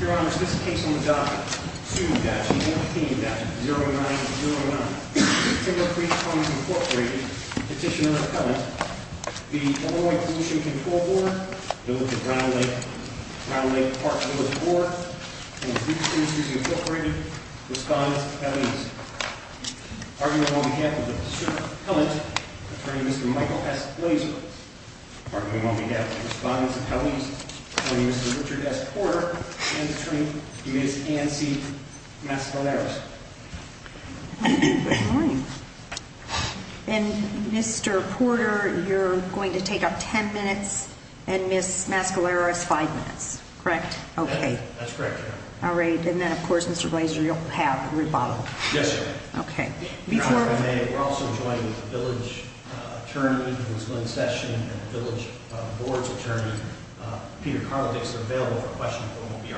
Your Honor, it's this case on the docket. Sue Datchett, Anthony Datchett, 0909. Timber Creek Homes, Inc. Petitioner, Appellant. The Illinois Pollution Control Board, known as the Brown Lake Park Village Board, and the Freed Spirits Industries, Inc. Respondents' Appellees. Arguing on behalf of the District Appellant, Attorney Mr. Michael S. Glazer. Arguing on behalf of the Respondents' Appellees, Attorney Mr. Richard S. Porter, and Attorney Ms. Anne C. Mascaleras. Good morning. And Mr. Porter, you're going to take up 10 minutes, and Ms. Mascaleras, 5 minutes, correct? That's correct, Your Honor. All right, and then of course, Mr. Glazer, you'll have a rebuttal. Yes, Your Honor. Your Honor, if I may, we're also joined with the Village Attorney, Ms. Lynn Session, and the Village Board's Attorney, Peter Karlovich. They're available for questions, but we won't be arguing.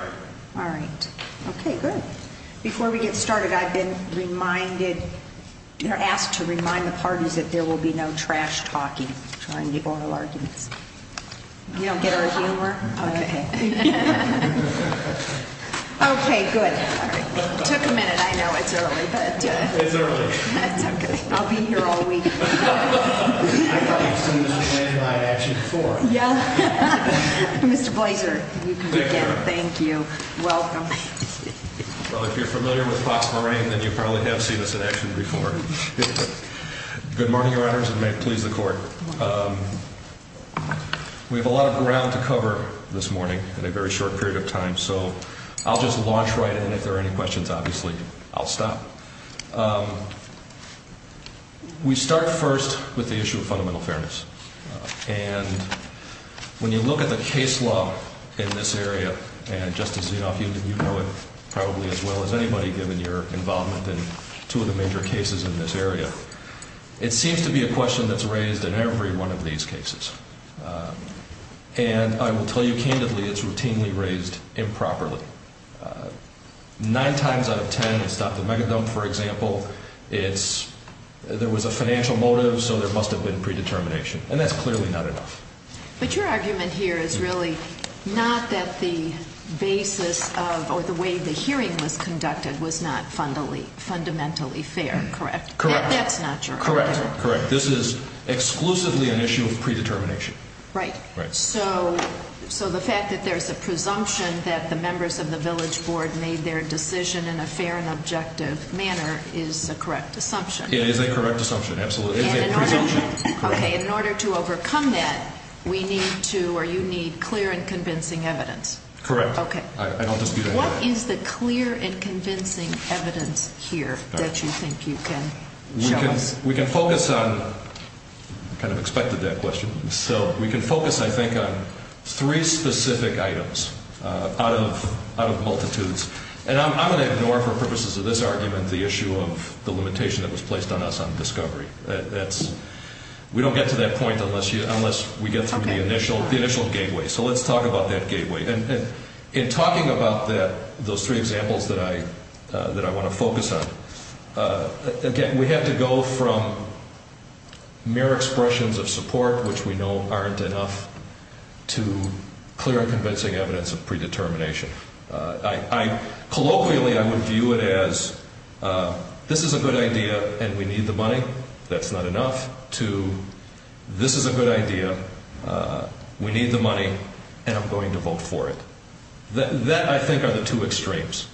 All right, okay, good. Before we get started, I've been asked to remind the parties that there will be no trash-talking. I'm trying to get oral arguments. You don't get our humor? Okay. Okay, good. All right. It took a minute. I know it's early. It's early. That's okay. I'll be here all week. I thought you'd seen this in action before. Mr. Glazer, you can begin. Thank you, Your Honor. Thank you. Welcome. Well, if you're familiar with Fox Marine, then you probably have seen this in action before. Good morning, Your Honors, and may it please the Court. We have a lot of ground to cover this morning in a very short period of time, so I'll just launch right in, and if there are any questions, obviously, I'll stop. We start first with the issue of fundamental fairness, and when you look at the case law in this area, and Justice Zinoff, you know it probably as well as anybody, given your involvement in two of the major cases in this area, it seems to be a question that's raised in every one of these cases, and I will tell you candidly, it's routinely raised improperly. Nine times out of ten, it's not the mega dump, for example. It's there was a financial motive, so there must have been predetermination, and that's clearly not enough. But your argument here is really not that the basis of or the way the hearing was conducted was not fundamentally fair, correct? Correct. That's not your argument? Correct. Correct. This is exclusively an issue of predetermination. Right. Right. So the fact that there's a presumption that the members of the village board made their decision in a fair and objective manner is a correct assumption? It is a correct assumption, absolutely. It is a presumption. Okay. In order to overcome that, we need to or you need clear and convincing evidence. Correct. I don't dispute that. What is the clear and convincing evidence here that you think you can show us? We can focus on kind of expected that question. So we can focus, I think, on three specific items out of multitudes. And I'm going to ignore, for purposes of this argument, the issue of the limitation that was placed on us on discovery. We don't get to that point unless we get through the initial gateway. So let's talk about that gateway. In talking about those three examples that I want to focus on, again, we have to go from mere expressions of support, which we know aren't enough, to clear and convincing evidence of predetermination. Colloquially, I would view it as this is a good idea and we need the money, that's not enough, to this is a good idea, we need the money, and I'm going to vote for it. That, I think, are the two extremes.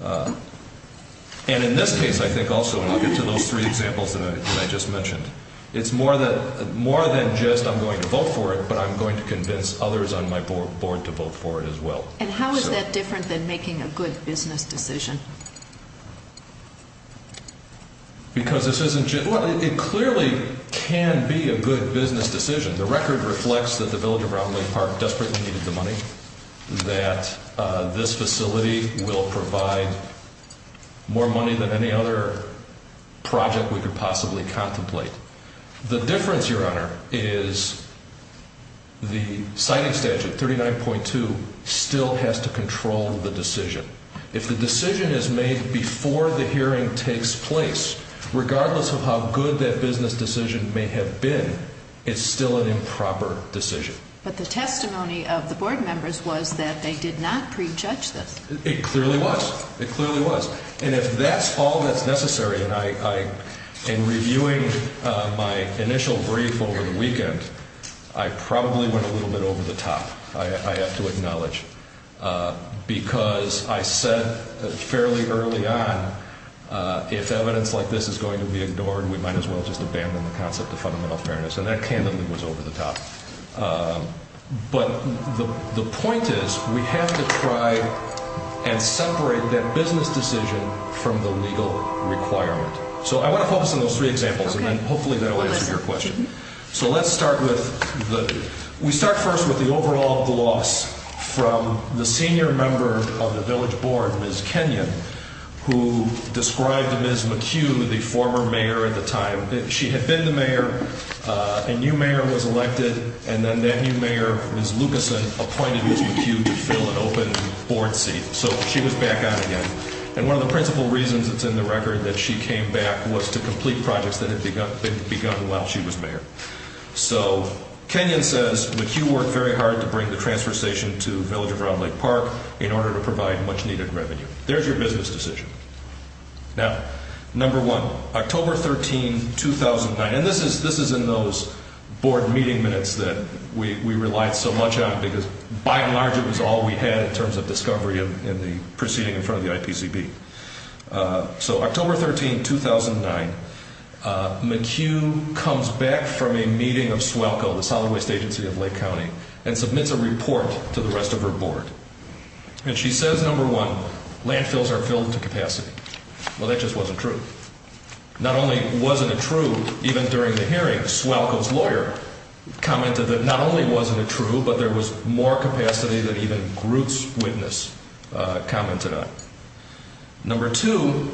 And in this case, I think also, and I'll get to those three examples that I just mentioned, it's more than just I'm going to vote for it, but I'm going to convince others on my board to vote for it as well. And how is that different than making a good business decision? Because this isn't just, well, it clearly can be a good business decision. The record reflects that the village of Round Lake Park desperately needed the money, that this facility will provide more money than any other project we could possibly contemplate. The difference, Your Honor, is the citing statute, 39.2, still has to control the decision. If the decision is made before the hearing takes place, regardless of how good that business decision may have been, it's still an improper decision. But the testimony of the board members was that they did not prejudge this. It clearly was. It clearly was. And if that's all that's necessary, and in reviewing my initial brief over the weekend, I probably went a little bit over the top, I have to acknowledge, because I said fairly early on, if evidence like this is going to be ignored, we might as well just abandon the concept of fundamental fairness. And that candidly was over the top. But the point is, we have to try and separate that business decision from the legal requirement. So I want to focus on those three examples, and then hopefully that will answer your question. So let's start with, we start first with the overall gloss from the senior member of the village board, Ms. Kenyon, who described Ms. McHugh, the former mayor at the time, that she had been the mayor, a new mayor was elected, and then that new mayor, Ms. Lucasen, appointed Ms. McHugh to fill an open board seat. So she was back on again. And one of the principal reasons it's in the record that she came back was to complete projects that had begun while she was mayor. So Kenyon says, McHugh worked very hard to bring the transfer station to Village of Round Lake Park in order to provide much-needed revenue. There's your business decision. Now, number one, October 13, 2009, and this is in those board meeting minutes that we relied so much on because by and large it was all we had in terms of discovery in the proceeding in front of the IPCB. So October 13, 2009, McHugh comes back from a meeting of SWALCO, the Solid Waste Agency of Lake County, and submits a report to the rest of her board. And she says, number one, landfills are filled to capacity. Well, that just wasn't true. Not only wasn't it true, even during the hearing, SWALCO's lawyer commented that not only wasn't it true, but there was more capacity than even Gruth's witness commented on. Number two,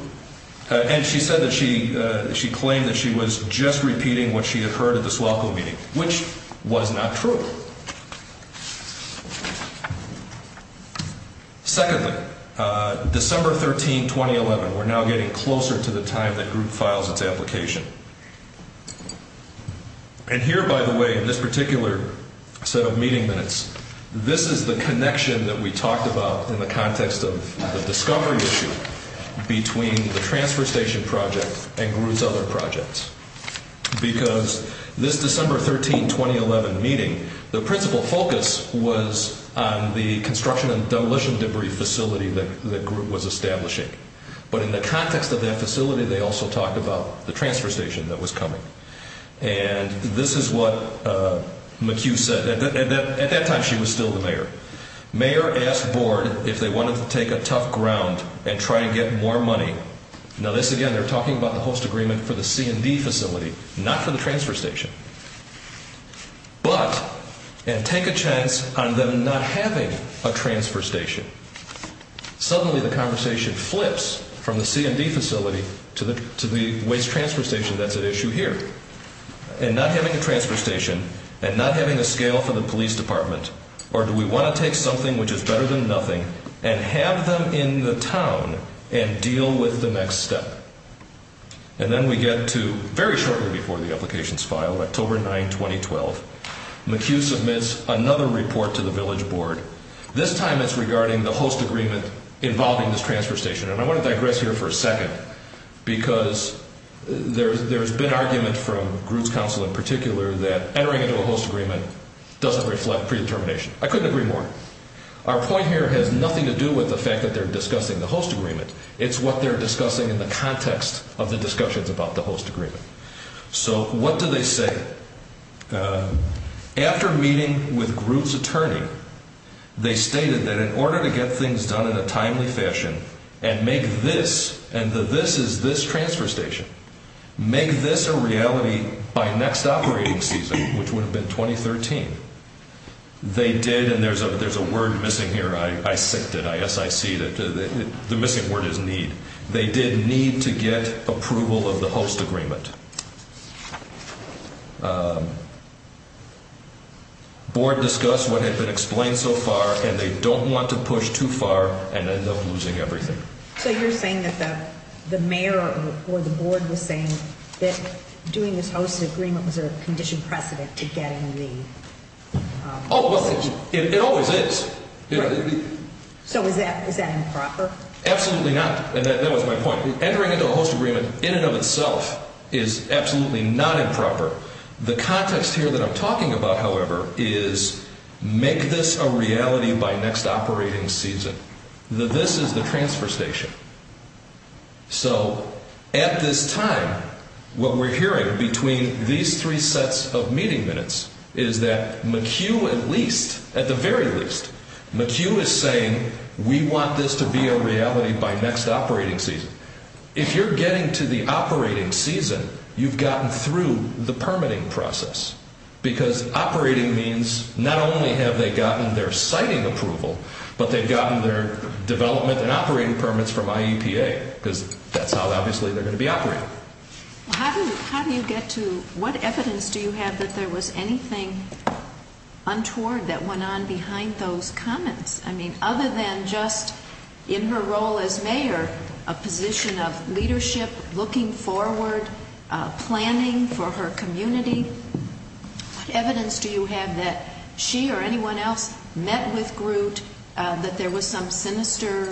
and she said that she claimed that she was just repeating what she had heard at the SWALCO meeting, which was not true. Secondly, December 13, 2011, we're now getting closer to the time that Gruth files its application. And here, by the way, in this particular set of meeting minutes, this is the connection that we talked about in the context of the discovery issue between the transfer station project and Gruth's other projects. Because this December 13, 2011 meeting, the principal focus was on the construction and demolition debris facility that Gruth was establishing. But in the context of that facility, they also talked about the transfer station that was coming. And this is what McHugh said. At that time, she was still the mayor. Mayor asked board if they wanted to take a tough ground and try and get more money. Now, this again, they're talking about the host agreement for the C&D facility, not for the transfer station. But, and take a chance on them not having a transfer station. Suddenly, the conversation flips from the C&D facility to the waste transfer station that's at issue here. And not having a transfer station, and not having a scale for the police department, or do we want to take something which is better than nothing and have them in the town and deal with the next step? And then we get to, very shortly before the application's filed, October 9, 2012, McHugh submits another report to the village board. This time it's regarding the host agreement involving this transfer station. And I want to digress here for a second, because there's been argument from Gruth's council in particular that entering into a host agreement doesn't reflect predetermination. I couldn't agree more. Our point here has nothing to do with the fact that they're discussing the host agreement. It's what they're discussing in the context of the discussions about the host agreement. So, what do they say? After meeting with Gruth's attorney, they stated that in order to get things done in a timely fashion and make this, and the this is this transfer station, make this a reality by next operating season, which would have been 2013, they did, and there's a word missing here, I synced it, I S-I-C-ed it, the missing word is need. They did need to get approval of the host agreement. Board discussed what had been explained so far, and they don't want to push too far and end up losing everything. So, you're saying that the mayor or the board was saying that doing this host agreement was a conditioned precedent to getting the... Oh, well, it always is. So, is that improper? Absolutely not, and that was my point. Entering into a host agreement in and of itself is absolutely not improper. The context here that I'm talking about, however, is make this a reality by next operating season. The this is the transfer station. So, at this time, what we're hearing between these three sets of meeting minutes is that McHugh at least, at the very least, McHugh is saying we want this to be a reality by next operating season. If you're getting to the operating season, you've gotten through the permitting process, because operating means not only have they gotten their siting approval, but they've gotten their development and operating permits from IEPA, because that's how, obviously, they're going to be operating. How do you get to, what evidence do you have that there was anything untoward that went on behind those comments? I mean, other than just in her role as mayor, a position of leadership, looking forward, planning for her community, what evidence do you have that she or anyone else met with Groot, that there was some sinister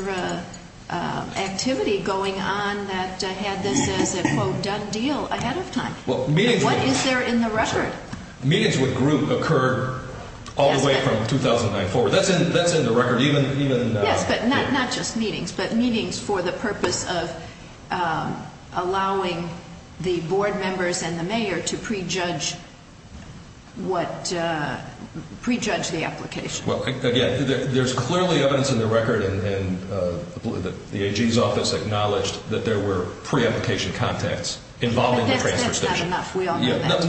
activity going on that had this as a, quote, done deal ahead of time? What is there in the record? Meetings with Groot occurred all the way from 2009 forward. That's in the record. Yes, but not just meetings, but meetings for the purpose of allowing the board members and the mayor to prejudge the application. Well, again, there's clearly evidence in the record, and the AG's office acknowledged that there were pre-application contacts involving the transfer station. But that's not enough.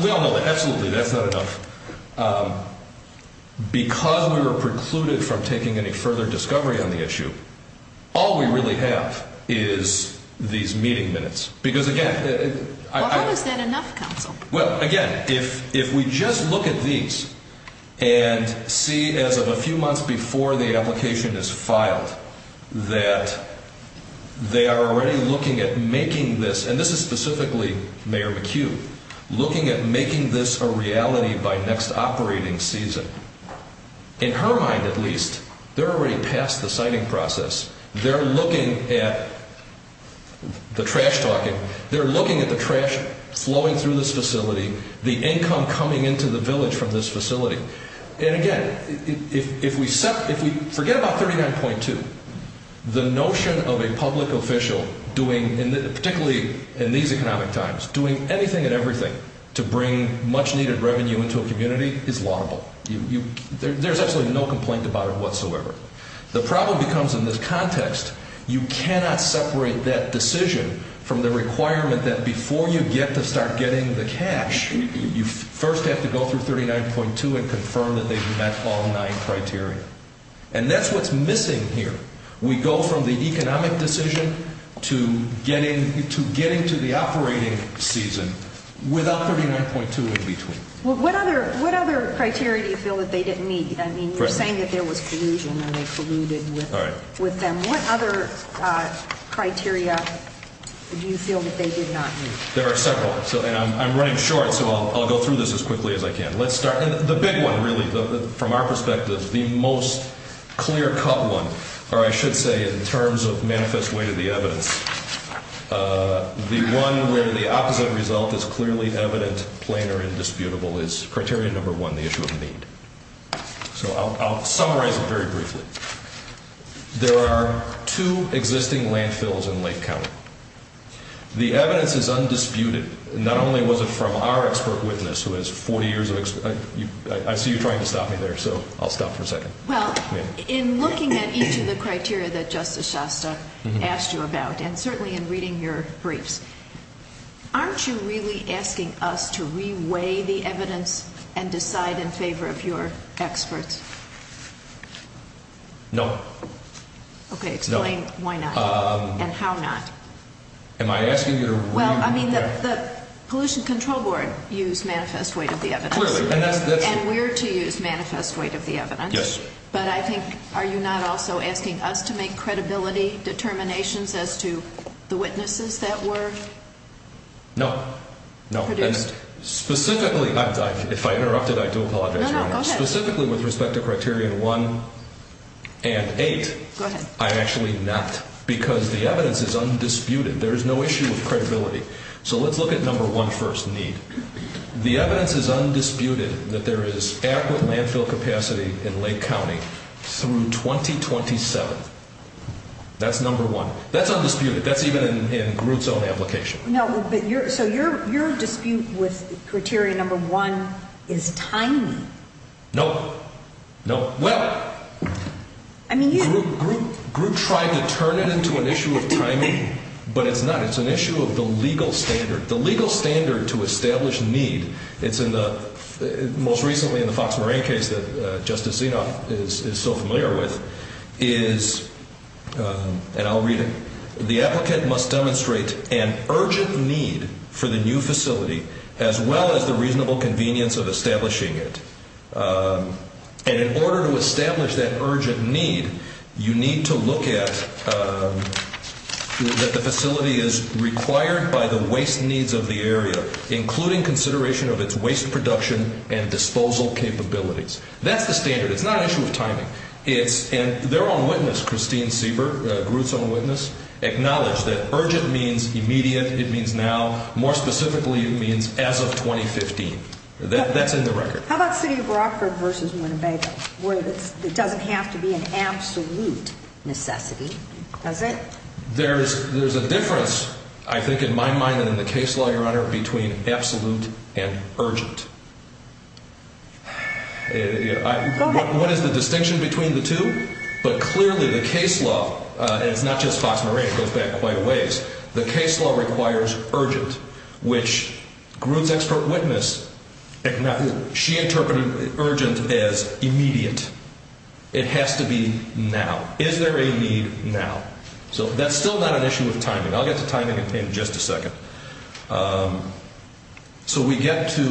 We all know that. Absolutely, that's not enough. Because we were precluded from taking any further discovery on the issue, all we really have is these meeting minutes. How is that enough, counsel? Well, again, if we just look at these and see, as of a few months before the application is filed, that they are already looking at making this, and this is specifically Mayor McHugh, looking at making this a reality by next operating season. In her mind, at least, they're already past the siting process. They're looking at the trash talking. They're looking at the trash flowing through this facility, the income coming into the village from this facility. And, again, if we forget about 39.2, the notion of a public official doing, particularly in these economic times, doing anything and everything to bring much-needed revenue into a community is laudable. There's absolutely no complaint about it whatsoever. The problem becomes in this context, you cannot separate that decision from the requirement that before you get to start getting the cash, you first have to go through 39.2 and confirm that they've met all nine criteria. And that's what's missing here. We go from the economic decision to getting to the operating season without 39.2 in between. Well, what other criteria do you feel that they didn't meet? I mean, you're saying that there was collusion and they colluded with them. What other criteria do you feel that they did not meet? There are several. And I'm running short, so I'll go through this as quickly as I can. Let's start. The big one, really, from our perspective, the most clear-cut one, or I should say in terms of manifest way to the evidence, the one where the opposite result is clearly evident, plain, or indisputable is criteria number one, the issue of need. So I'll summarize it very briefly. There are two existing landfills in Lake County. The evidence is undisputed. Not only was it from our expert witness who has 40 years of experience. I see you're trying to stop me there, so I'll stop for a second. Well, in looking at each of the criteria that Justice Shasta asked you about, and certainly in reading your briefs, aren't you really asking us to re-weigh the evidence and decide in favor of your experts? No. Okay, explain why not and how not. Am I asking you to re- Well, I mean, the Pollution Control Board used manifest way to the evidence. Clearly, and that's And we're to use manifest way to the evidence. Yes. But I think, are you not also asking us to make credibility determinations as to the witnesses that were produced? No, no. Specifically, if I interrupted, I do apologize. No, no, go ahead. Specifically with respect to Criterion 1 and 8, I'm actually not, because the evidence is undisputed. There is no issue with credibility. So let's look at Number 1 first, need. The evidence is undisputed that there is adequate landfill capacity in Lake County through 2027. That's Number 1. That's undisputed. That's even in Groot's own application. So your dispute with Criterion Number 1 is timing. No, no. Well, Groot tried to turn it into an issue of timing, but it's not. It's an issue of the legal standard. The legal standard to establish need, it's in the, most recently in the Fox Marine case that Justice Zinoff is so familiar with, is, and I'll read it. The applicant must demonstrate an urgent need for the new facility as well as the reasonable convenience of establishing it. And in order to establish that urgent need, you need to look at that the facility is required by the waste needs of the area, including consideration of its waste production and disposal capabilities. That's the standard. It's not an issue of timing. And their own witness, Christine Sieber, Groot's own witness, acknowledged that urgent means immediate. It means now. More specifically, it means as of 2015. That's in the record. How about City of Brockford versus Winnebago, where it doesn't have to be an absolute necessity, does it? There's a difference, I think, in my mind and in the case law, Your Honor, between absolute and urgent. Go ahead. What is the distinction between the two? But clearly the case law, and it's not just Fox Marine, it goes back quite a ways, the case law requires urgent, which Groot's expert witness, she interpreted urgent as immediate. It has to be now. Is there a need now? So that's still not an issue of timing. I'll get to timing in just a second. So we get to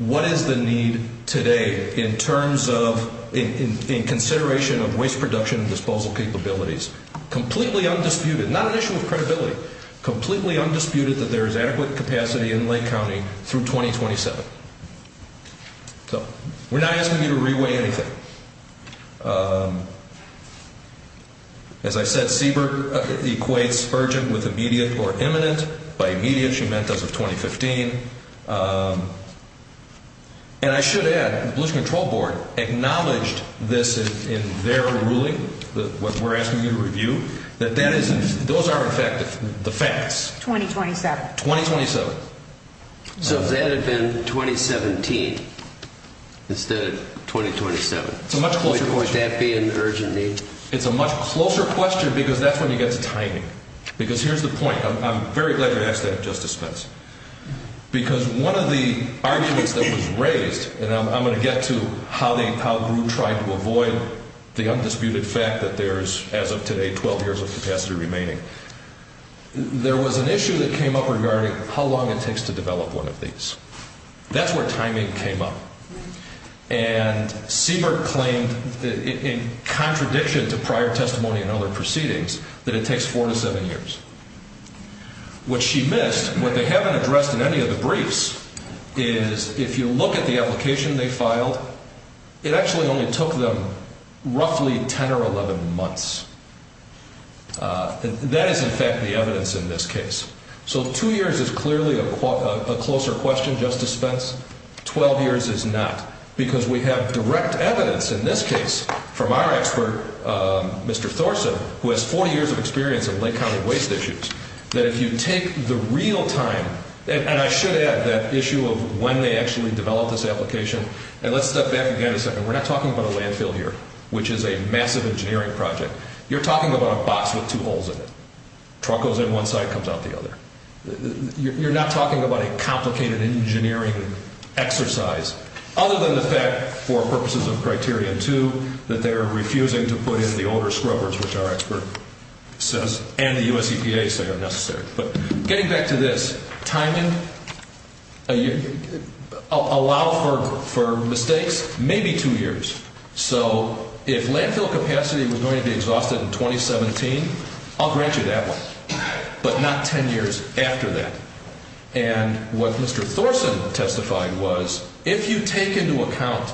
what is the need today in terms of, in consideration of waste production and disposal capabilities. Completely undisputed. Not an issue of credibility. Completely undisputed that there is adequate capacity in Lake County through 2027. So we're not asking you to reweigh anything. As I said, Siebert equates urgent with immediate or imminent. By immediate, she meant as of 2015. And I should add, the Pollution Control Board acknowledged this in their ruling, what we're asking you to review, that those are in fact the facts. 2027. 2027. So if that had been 2017 instead of 2027, would that be an urgent need? It's a much closer question because that's when you get to timing. Because here's the point. I'm very glad you asked that, Justice Spence. Because one of the arguments that was raised, and I'm going to get to how Groot tried to avoid the undisputed fact that there is, as of today, 12 years of capacity remaining. There was an issue that came up regarding how long it takes to develop one of these. That's where timing came up. And Siebert claimed, in contradiction to prior testimony and other proceedings, that it takes four to seven years. What she missed, what they haven't addressed in any of the briefs, is if you look at the application they filed, it actually only took them roughly 10 or 11 months. That is, in fact, the evidence in this case. So two years is clearly a closer question, Justice Spence. Twelve years is not. Because we have direct evidence in this case from our expert, Mr. Thorson, who has 40 years of experience in Lake County waste issues, that if you take the real time. And I should add that issue of when they actually developed this application. And let's step back again a second. We're not talking about a landfill here, which is a massive engineering project. You're talking about a box with two holes in it. Truck goes in one side, comes out the other. You're not talking about a complicated engineering exercise. Other than the fact, for purposes of Criterion 2, that they're refusing to put in the older scrubbers, which our expert says, and the US EPA say are necessary. But getting back to this, timing, allow for mistakes, maybe two years. So if landfill capacity was going to be exhausted in 2017, I'll grant you that one. But not 10 years after that. And what Mr. Thorson testified was, if you take into account,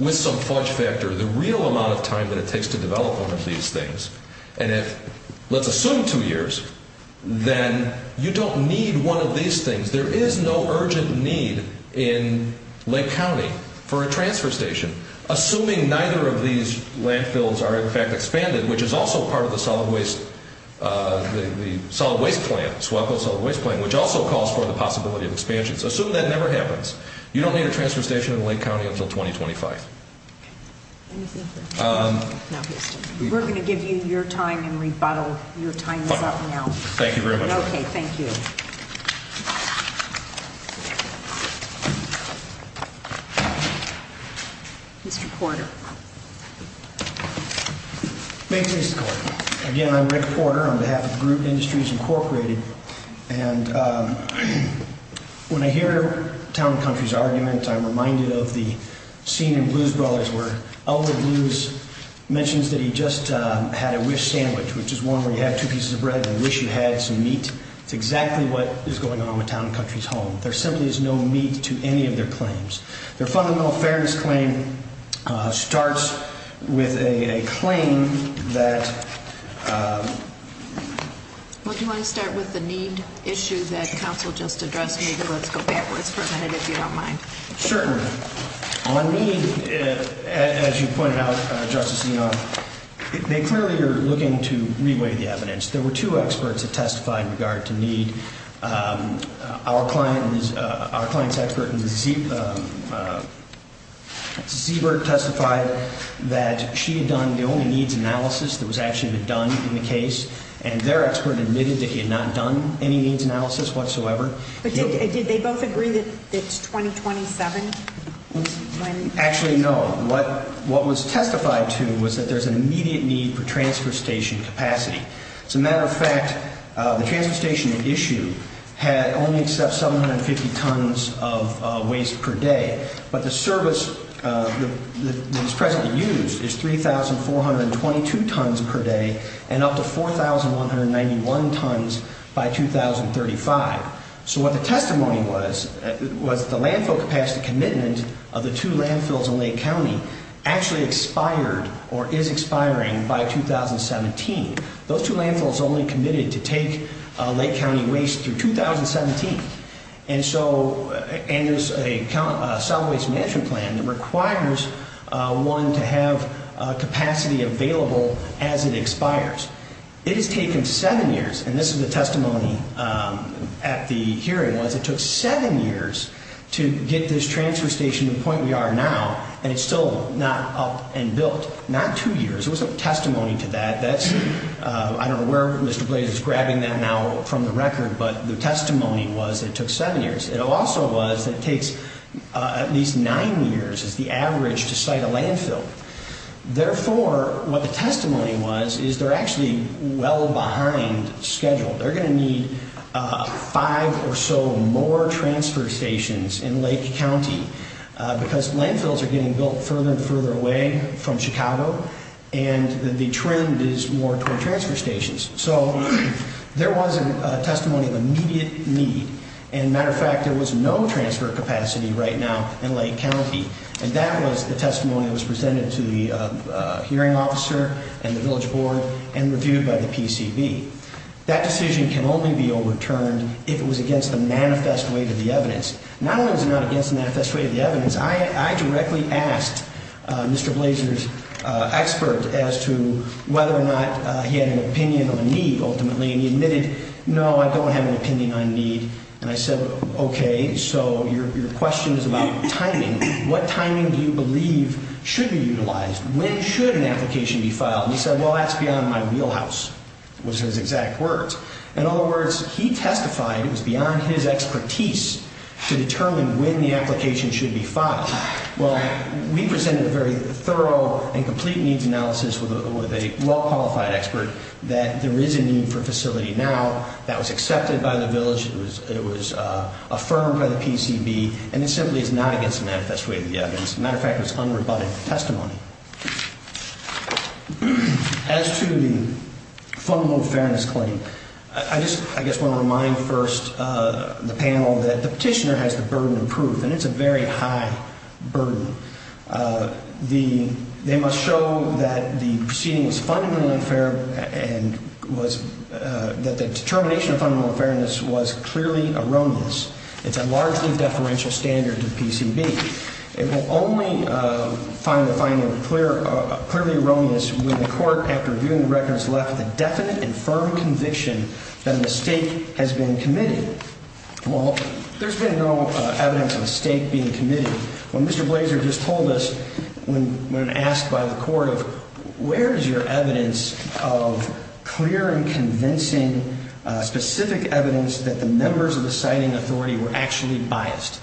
with some fudge factor, the real amount of time that it takes to develop one of these things. And if, let's assume two years, then you don't need one of these things. There is no urgent need in Lake County for a transfer station. Assuming neither of these landfills are in fact expanded, which is also part of the solid waste, the solid waste plant, which also calls for the possibility of expansions. Assume that never happens. You don't need a transfer station in Lake County until 2025. We're going to give you your time and rebuttal. Your time is up now. Thank you very much. Okay, thank you. Mr. Porter. May it please the Court. Again, I'm Rick Porter on behalf of Group Industries Incorporated. And when I hear Town & Country's argument, I'm reminded of the scene in Blues Brothers where Elder Blues mentions that he just had a wish sandwich, which is one where you have two pieces of bread and wish you had some meat. It's exactly what is going on with Town & Country's home. There simply is no meat to any of their claims. Their fundamental fairness claim starts with a claim that Well, do you want to start with the need issue that counsel just addressed? Maybe let's go backwards for a minute if you don't mind. Certainly. On need, as you pointed out, Justice Enoff, they clearly are looking to re-weigh the evidence. There were two experts that testified in regard to need. Our client's expert, Zebert, testified that she had done the only needs analysis that was actually done in the case, and their expert admitted that he had not done any needs analysis whatsoever. But did they both agree that it's 2027? Actually, no. What was testified to was that there's an immediate need for transfer station capacity. As a matter of fact, the transfer station at issue only accepts 750 tons of waste per day, but the service that is presently used is 3,422 tons per day and up to 4,191 tons by 2035. So what the testimony was, was the landfill capacity commitment of the two landfills in Lake County actually expired or is expiring by 2017. Those two landfills only committed to take Lake County waste through 2017. And so there's a cell waste management plan that requires one to have capacity available as it expires. It has taken seven years, and this is the testimony at the hearing was, it took seven years to get this transfer station to the point we are now, and it's still not up and built. Not two years. There was a testimony to that. That's, I don't know where Mr. Blaze is grabbing that now from the record, but the testimony was it took seven years. It also was that it takes at least nine years is the average to site a landfill. Therefore, what the testimony was is they're actually well behind schedule. They're going to need five or so more transfer stations in Lake County because landfills are getting built further and further away from Chicago, and the trend is more toward transfer stations. So there was a testimony of immediate need. And matter of fact, there was no transfer capacity right now in Lake County, and that was the testimony that was presented to the hearing officer and the village board and reviewed by the PCB. That decision can only be overturned if it was against the manifest way to the evidence. Not only is it not against the manifest way to the evidence. I directly asked Mr. Blazer's expert as to whether or not he had an opinion on the need ultimately, and he admitted, no, I don't have an opinion on need. And I said, okay, so your question is about timing. What timing do you believe should be utilized? When should an application be filed? And he said, well, that's beyond my wheelhouse, was his exact words. In other words, he testified it was beyond his expertise to determine when the application should be filed. Well, we presented a very thorough and complete needs analysis with a well-qualified expert that there is a need for a facility now. That was accepted by the village. It was affirmed by the PCB, and it simply is not against the manifest way to the evidence. Matter of fact, it was unrebutted testimony. As to the fundamental fairness claim, I just want to remind first the panel that the petitioner has the burden of proof, and it's a very high burden. They must show that the proceeding was fundamentally unfair and that the determination of fundamental fairness was clearly erroneous. It's a largely deferential standard to the PCB. It will only find the finding clearly erroneous when the court, after reviewing the records, left with a definite and firm conviction that a mistake has been committed. Well, there's been no evidence of a mistake being committed. When Mr. Blaser just told us, when asked by the court of where is your evidence of clear and convincing specific evidence that the members of the citing authority were actually biased,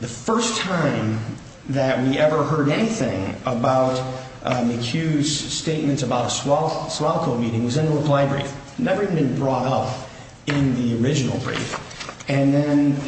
the first time that we ever heard anything about McHugh's statements about a SWALCO meeting was in the reply brief, never even been brought up in the original brief, and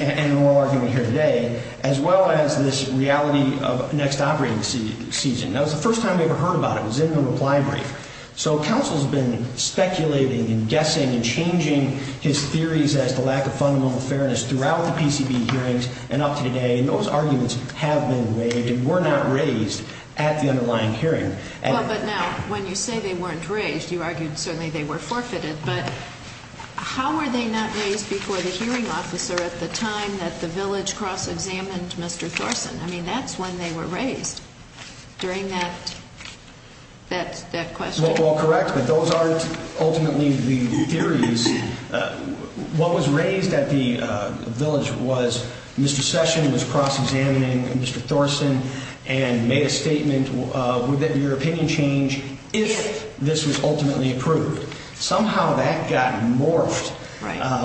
in oral argument here today, as well as this reality of next operating season. That was the first time we ever heard about it was in the reply brief. So counsel's been speculating and guessing and changing his theories as to lack of fundamental fairness throughout the PCB hearings and up to today, and those arguments have been raised and were not raised at the underlying hearing. Well, but now, when you say they weren't raised, you argued certainly they were forfeited, but how were they not raised before the hearing officer at the time that the village cross-examined Mr. Thorson? I mean, that's when they were raised, during that question. Well, correct, but those aren't ultimately the theories. What was raised at the village was Mr. Session was cross-examining Mr. Thorson and made a statement, would your opinion change if this was ultimately approved? Somehow that got morphed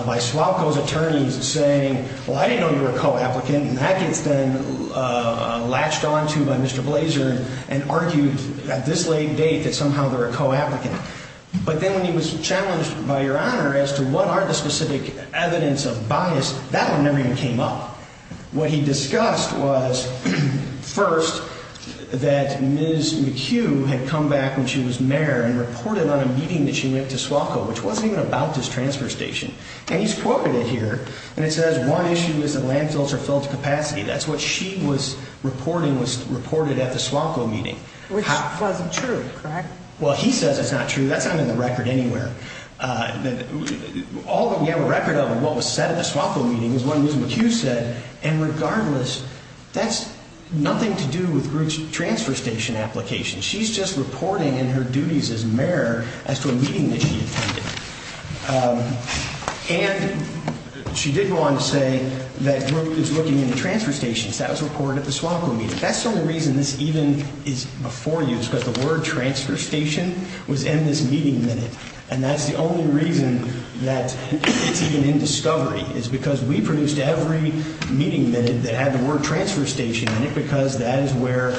by SWALCO's attorneys saying, well, I didn't know you were a co-applicant, and that gets then latched onto by Mr. Blaser and argued at this late date that somehow they're a co-applicant. But then when he was challenged by Your Honor as to what are the specific evidence of bias, that one never even came up. What he discussed was, first, that Ms. McHugh had come back when she was mayor and reported on a meeting that she went to SWALCO, which wasn't even about this transfer station. And he's quoted it here, and it says one issue is that landfills are filled to capacity. That's what she was reporting was reported at the SWALCO meeting. Which wasn't true, correct? Well, he says it's not true. That's not in the record anywhere. All that we have a record of of what was said at the SWALCO meeting is what Ms. McHugh said. And regardless, that's nothing to do with Brooke's transfer station application. She's just reporting in her duties as mayor as to a meeting that she attended. And she did go on to say that Brooke is looking into transfer stations. That was reported at the SWALCO meeting. That's the only reason this even is before you, is because the word transfer station was in this meeting minute. And that's the only reason that it's even in discovery, is because we produced every meeting minute that had the word transfer station in it because that is where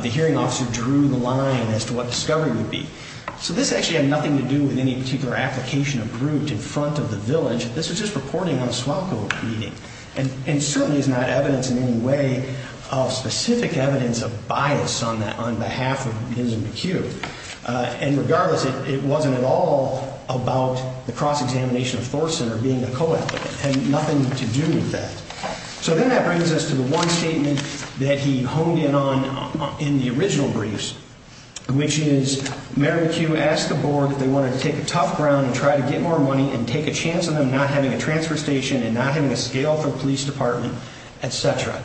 the hearing officer drew the line as to what discovery would be. So this actually had nothing to do with any particular application of Brooke in front of the village. This was just reporting on a SWALCO meeting. And certainly is not evidence in any way of specific evidence of bias on behalf of Ms. McHugh. And regardless, it wasn't at all about the cross-examination of Thorson or being a co-applicant. It had nothing to do with that. So then that brings us to the one statement that he honed in on in the original briefs, which is Mary McHugh asked the board if they wanted to take a tough ground and try to get more money and take a chance on them not having a transfer station and not having a scale for a police department, et cetera.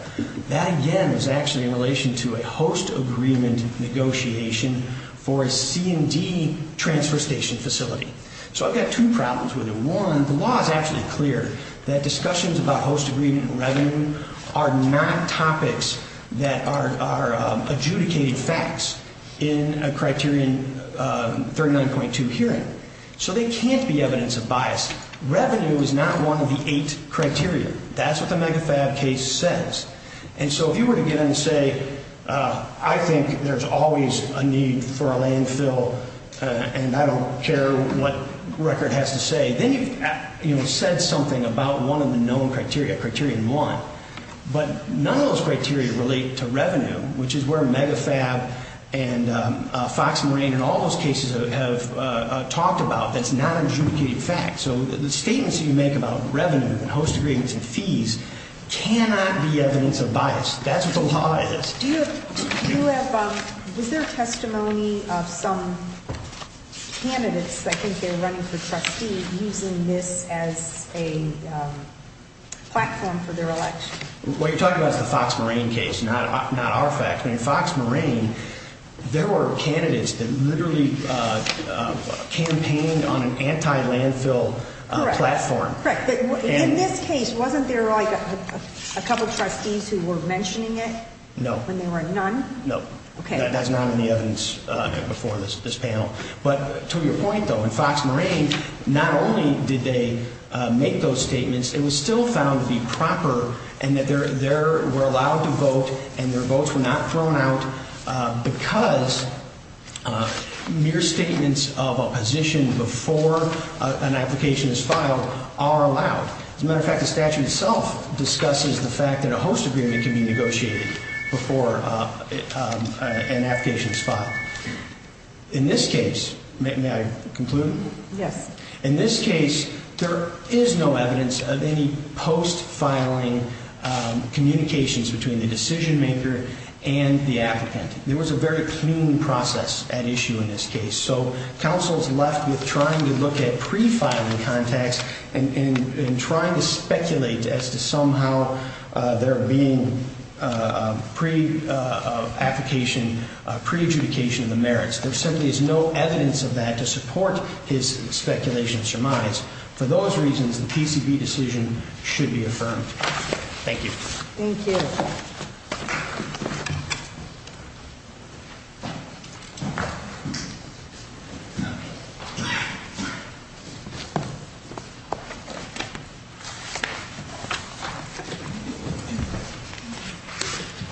That, again, is actually in relation to a host agreement negotiation for a C&D transfer station facility. So I've got two problems with it. One, the law is actually clear that discussions about host agreement and revenue are not topics that are adjudicated facts in a criterion 39.2 hearing. So they can't be evidence of bias. Revenue is not one of the eight criteria. That's what the MEGAFAB case says. And so if you were to get in and say, I think there's always a need for a landfill and I don't care what record has to say, then you've said something about one of the known criteria, Criterion 1. But none of those criteria relate to revenue, which is where MEGAFAB and Fox Marine and all those cases have talked about. That's not an adjudicated fact. So the statements that you make about revenue and host agreements and fees cannot be evidence of bias. That's what the law is. Do you have, was there a testimony of some candidates, I think they were running for trustee, using this as a platform for their election? What you're talking about is the Fox Marine case, not our facts. In Fox Marine, there were candidates that literally campaigned on an anti-landfill platform. Correct. In this case, wasn't there a couple of trustees who were mentioning it? No. When there were none? No. Okay. That's not in the evidence before this panel. But to your point, though, in Fox Marine, not only did they make those statements, it was still found to be proper and that they were allowed to vote and their votes were not thrown out because mere statements of a position before an application is filed are allowed. As a matter of fact, the statute itself discusses the fact that a host agreement can be negotiated before an application is filed. In this case, may I conclude? Yes. In this case, there is no evidence of any post-filing communications between the decision-maker and the applicant. There was a very clean process at issue in this case. So counsel is left with trying to look at pre-filing contacts and trying to speculate as to somehow there being pre-application, pre-adjudication of the merits. There simply is no evidence of that to support his speculation surmise. For those reasons, the PCB decision should be affirmed. Thank you. Thank you. Thank you.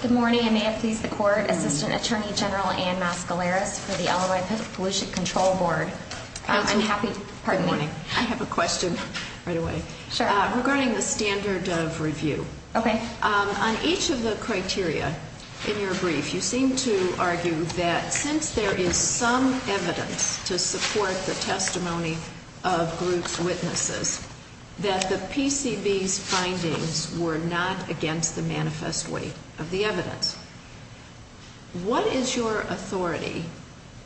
Good morning. I may have pleased the court. Assistant Attorney General Ann Mascaleras for the Illinois Pollution Control Board. Counsel, good morning. I have a question right away. Sure. Regarding the standard of review. Okay. On each of the criteria in your brief, you seem to argue that since there is some evidence to support the testimony of groups' witnesses, that the PCB's findings were not against the manifest weight of the evidence. What is your authority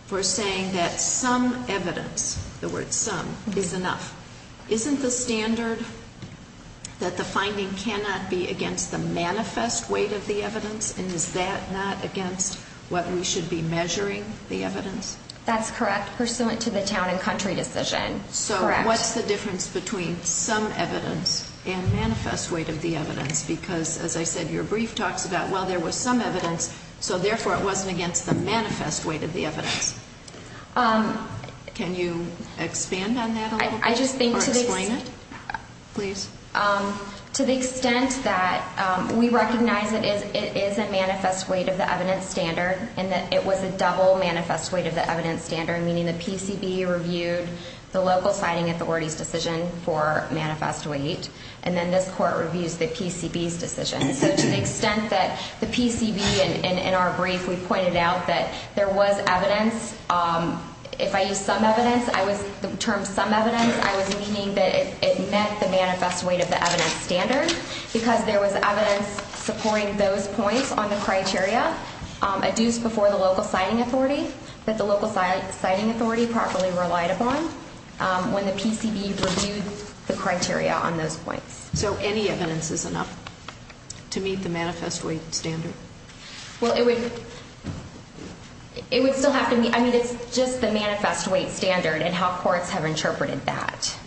for saying that some evidence, the word some, is enough? Isn't the standard that the finding cannot be against the manifest weight of the evidence? And is that not against what we should be measuring the evidence? That's correct, pursuant to the town and country decision. Correct. So what's the difference between some evidence and manifest weight of the evidence? Because, as I said, your brief talks about, well, there was some evidence, so therefore it wasn't against the manifest weight of the evidence. Can you expand on that a little bit? I just think to the extent that we recognize that it is a manifest weight of the evidence standard and that it was a double manifest weight of the evidence standard, meaning the PCB reviewed the local citing authority's decision for manifest weight, and then this court reviews the PCB's decision. So to the extent that the PCB, in our brief, we pointed out that there was evidence, if I use some evidence, the term some evidence, I was meaning that it met the manifest weight of the evidence standard because there was evidence supporting those points on the criteria adduced before the local citing authority that the local citing authority properly relied upon when the PCB reviewed the criteria on those points. So any evidence is enough to meet the manifest weight standard? Well, it would still have to meet. I mean, it's just the manifest weight standard and how courts have interpreted that.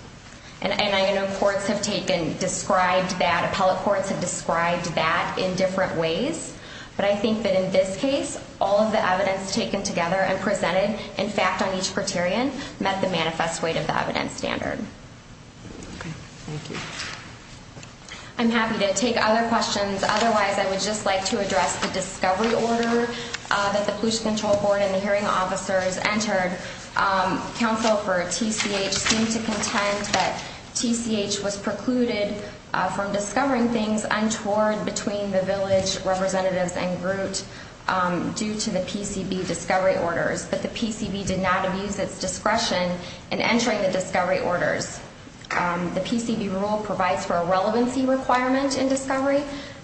And I know courts have taken, described that, appellate courts have described that in different ways, but I think that in this case, all of the evidence taken together and presented in fact on each criterion met the manifest weight of the evidence standard. Okay. Thank you. I'm happy to take other questions. Otherwise, I would just like to address the discovery order that the Pollution Control Board and the hearing officers entered. Counsel for TCH seemed to contend that TCH was precluded from discovering things untoward between the village representatives and group due to the PCB discovery orders, but the PCB did not abuse its discretion in entering the discovery orders. The PCB rule provides for a relevancy requirement in discovery.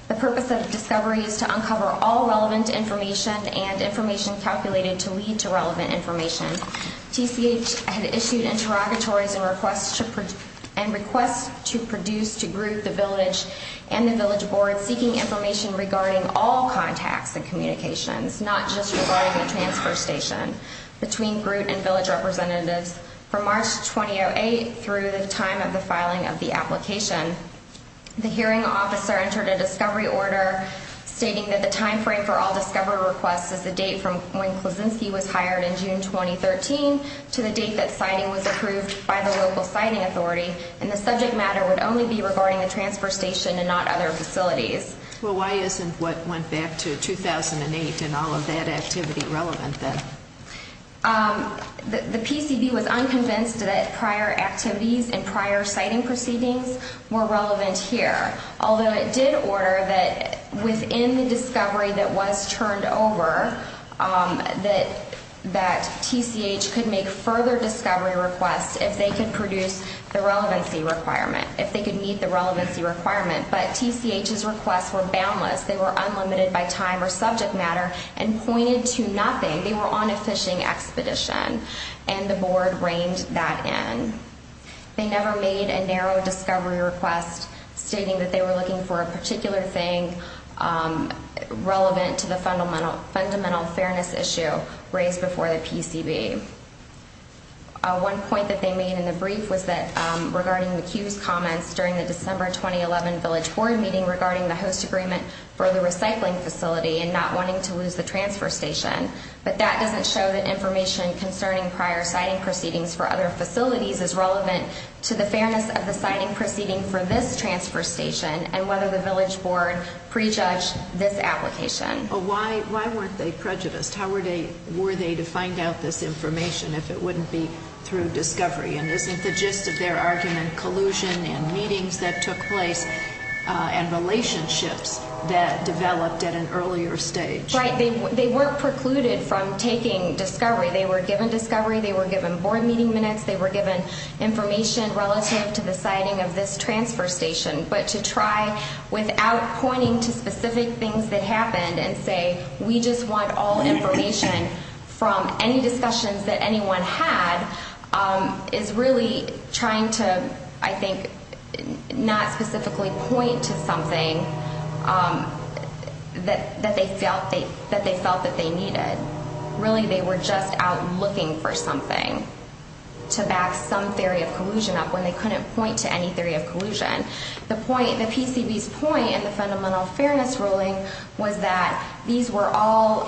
The purpose of discovery is to uncover all relevant information and information calculated to lead to relevant information. TCH had issued interrogatories and requests to produce to group the village and the village board seeking information regarding all contacts and communications, not just regarding the transfer station, between group and village representatives. From March 2008 through the time of the filing of the application, the hearing officer entered a discovery order stating that the time frame for all discovery requests is the date from when Klozinski was hired in June 2013 to the date that siting was approved by the local siting authority, and the subject matter would only be regarding the transfer station and not other facilities. Well, why isn't what went back to 2008 and all of that activity relevant then? The PCB was unconvinced that prior activities and prior siting proceedings were relevant here, although it did order that within the discovery that was turned over that TCH could make further discovery requests if they could produce the relevancy requirement, if they could meet the relevancy requirement. But TCH's requests were boundless. They were unlimited by time or subject matter and pointed to nothing. They were on a fishing expedition, and the board reined that in. They never made a narrow discovery request stating that they were looking for a particular thing relevant to the fundamental fairness issue raised before the PCB. One point that they made in the brief was that regarding McHugh's comments during the December 2011 village board meeting regarding the host agreement for the recycling facility and not wanting to lose the transfer station, but that doesn't show that information concerning prior siting proceedings for other facilities is relevant to the fairness of the siting proceeding for this transfer station and whether the village board prejudged this application. Well, why weren't they prejudiced? How were they to find out this information if it wouldn't be through discovery? And isn't the gist of their argument collusion and meetings that took place and relationships that developed at an earlier stage? Right. They weren't precluded from taking discovery. They were given discovery. They were given board meeting minutes. They were given information relative to the siting of this transfer station. But to try without pointing to specific things that happened and say, we just want all information from any discussions that anyone had, is really trying to, I think, not specifically point to something that they felt that they needed. Really, they were just out looking for something to back some theory of collusion up when they couldn't point to any theory of collusion. The PCB's point in the fundamental fairness ruling was that these were all,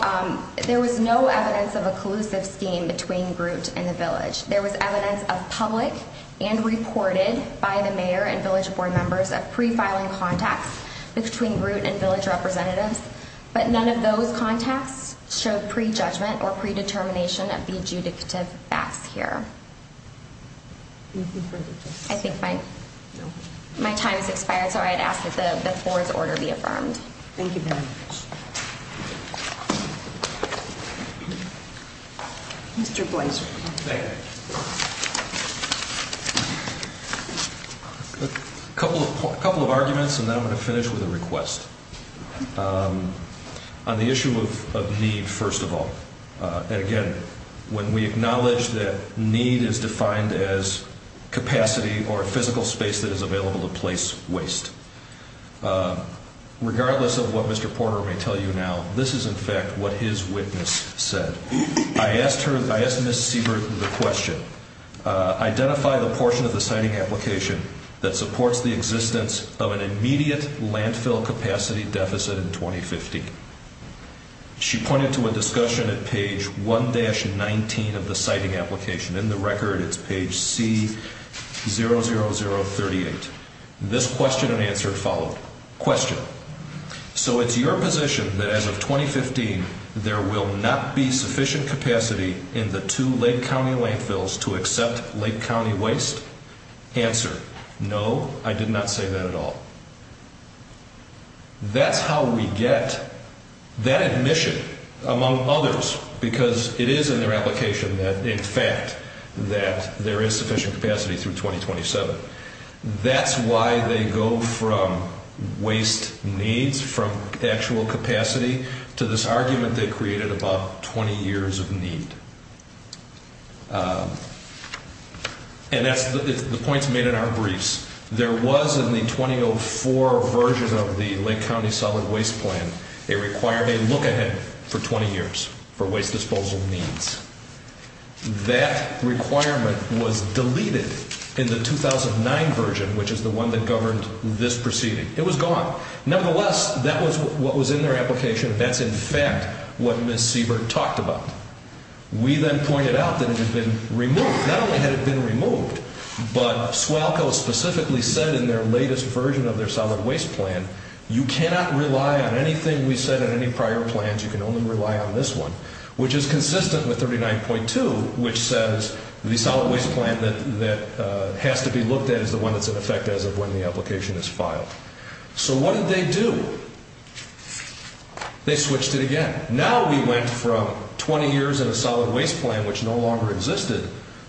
there was no evidence of a collusive scheme between Groot and the village. There was evidence of public and reported by the mayor and village board members of pre-filing contacts between Groot and village representatives. But none of those contacts showed prejudgment or predetermination of the adjudicative facts here. Anything further to say? I think my time has expired, so I'd ask that the board's order be affirmed. Thank you very much. Mr. Blaser. Thank you. A couple of arguments, and then I'm going to finish with a request. On the issue of need, first of all, and again, when we acknowledge that need is defined as capacity or physical space that is available to place waste. Regardless of what Mr. Porter may tell you now, this is in fact what his witness said. I asked her, I asked Ms. Siebert the question, identify the portion of the siting application that supports the existence of an immediate landfill capacity deficit in 2050. She pointed to a discussion at page 1-19 of the siting application. In the record, it's page C00038. This question and answer followed. Question. So it's your position that as of 2015, there will not be sufficient capacity in the two Lake County landfills to accept Lake County waste? Answer. No, I did not say that at all. That's how we get that admission among others, because it is in their application that, in fact, that there is sufficient capacity through 2027. That's why they go from waste needs, from actual capacity, to this argument they created about 20 years of need. And the point is made in our briefs. There was in the 2004 version of the Lake County Solid Waste Plan, they required a look-ahead for 20 years for waste disposal needs. That requirement was deleted in the 2009 version, which is the one that governed this proceeding. It was gone. Nevertheless, that was what was in their application. That's, in fact, what Ms. Siebert talked about. We then pointed out that it had been removed. Not only had it been removed, but SWALCO specifically said in their latest version of their Solid Waste Plan, you cannot rely on anything we said in any prior plans. You can only rely on this one, which is consistent with 39.2, which says the Solid Waste Plan that has to be looked at is the one that's in effect as of when the application is filed. So what did they do? They switched it again. Now we went from 20 years in a Solid Waste Plan, which no longer existed,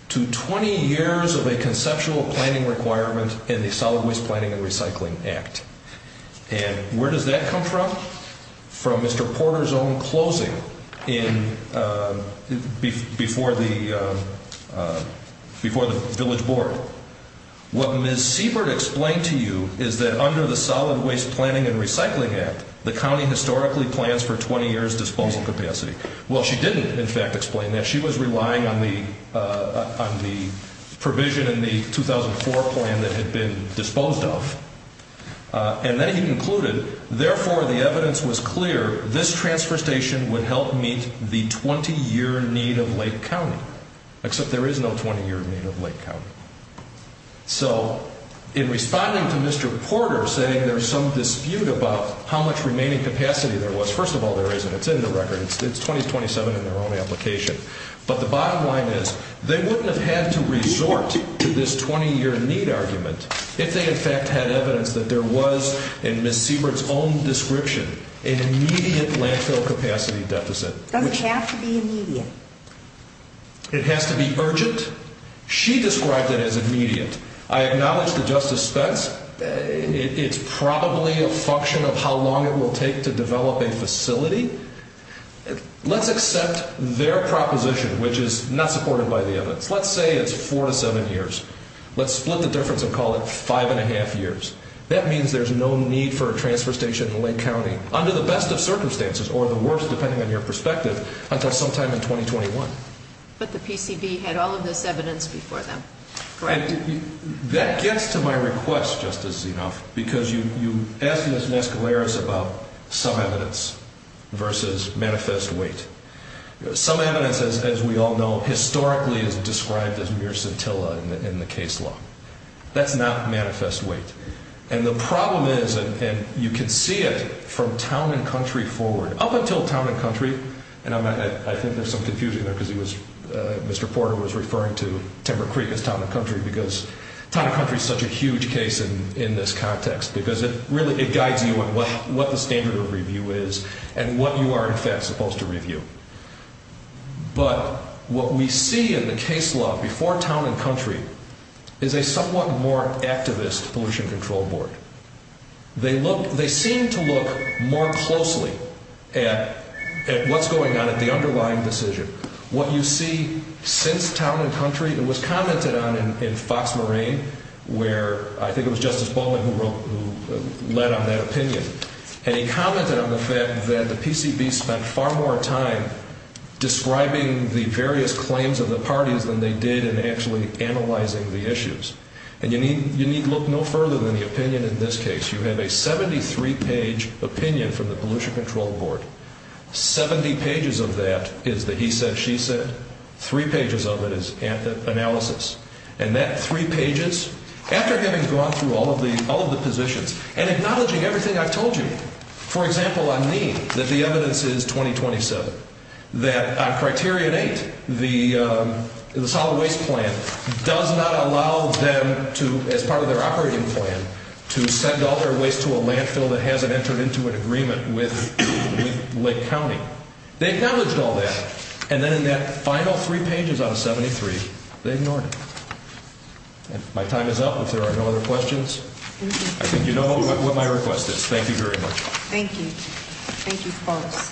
to 20 years of a conceptual planning requirement in the Solid Waste Planning and Recycling Act. And where does that come from? From Mr. Porter's own closing before the village board. What Ms. Siebert explained to you is that under the Solid Waste Planning and Recycling Act, the county historically plans for 20 years' disposal capacity. Well, she didn't, in fact, explain that. She was relying on the provision in the 2004 plan that had been disposed of. And then he concluded, therefore, the evidence was clear, this transfer station would help meet the 20-year need of Lake County, except there is no 20-year need of Lake County. So in responding to Mr. Porter saying there's some dispute about how much remaining capacity there was, first of all, there isn't. It's in the record. It's 2027 in their own application. But the bottom line is they wouldn't have had to resort to this 20-year need argument if they, in fact, had evidence that there was, in Ms. Siebert's own description, an immediate landfill capacity deficit. Doesn't have to be immediate. It has to be urgent. She described it as immediate. I acknowledge that Justice Spence, it's probably a function of how long it will take to develop a facility. Let's accept their proposition, which is not supported by the evidence. Let's say it's four to seven years. Let's split the difference and call it five and a half years. That means there's no need for a transfer station in Lake County, under the best of circumstances or the worst, depending on your perspective, until sometime in 2021. But the PCB had all of this evidence before them. Correct. And that gets to my request, Justice Zinoff, because you asked Ms. Mescaleras about some evidence versus manifest weight. Some evidence, as we all know, historically is described as mere scintilla in the case law. That's not manifest weight. And the problem is, and you can see it from town and country forward, up until town and country, and I think there's some confusion there because Mr. Porter was referring to Timber Creek as town and country because town and country is such a huge case in this context because it really guides you in what the standard of review is and what you are in fact supposed to review. But what we see in the case law before town and country is a somewhat more activist pollution control board. They seem to look more closely at what's going on at the underlying decision. What you see since town and country, it was commented on in Fox Marine, where I think it was Justice Baldwin who led on that opinion. And he commented on the fact that the PCB spent far more time describing the various claims of the parties than they did in actually analyzing the issues. And you need look no further than the opinion in this case. You have a 73-page opinion from the pollution control board. Seventy pages of that is the he said, she said. Three pages of it is analysis. And that three pages, after having gone through all of the positions and acknowledging everything I've told you, for example, I mean that the evidence is 2027. That on Criterion 8, the solid waste plan does not allow them to, as part of their operating plan, to send all their waste to a landfill that hasn't entered into an agreement with Lake County. They've done all that. And then in that final three pages on 73, they ignored it. My time is up. If there are no other questions, I think you know what my request is. Thank you very much. Thank you. Thank you, folks,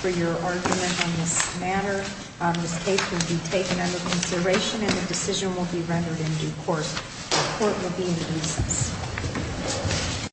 for your argument on this matter. This case will be taken under consideration and the decision will be rendered in due course. The court will be in the recess.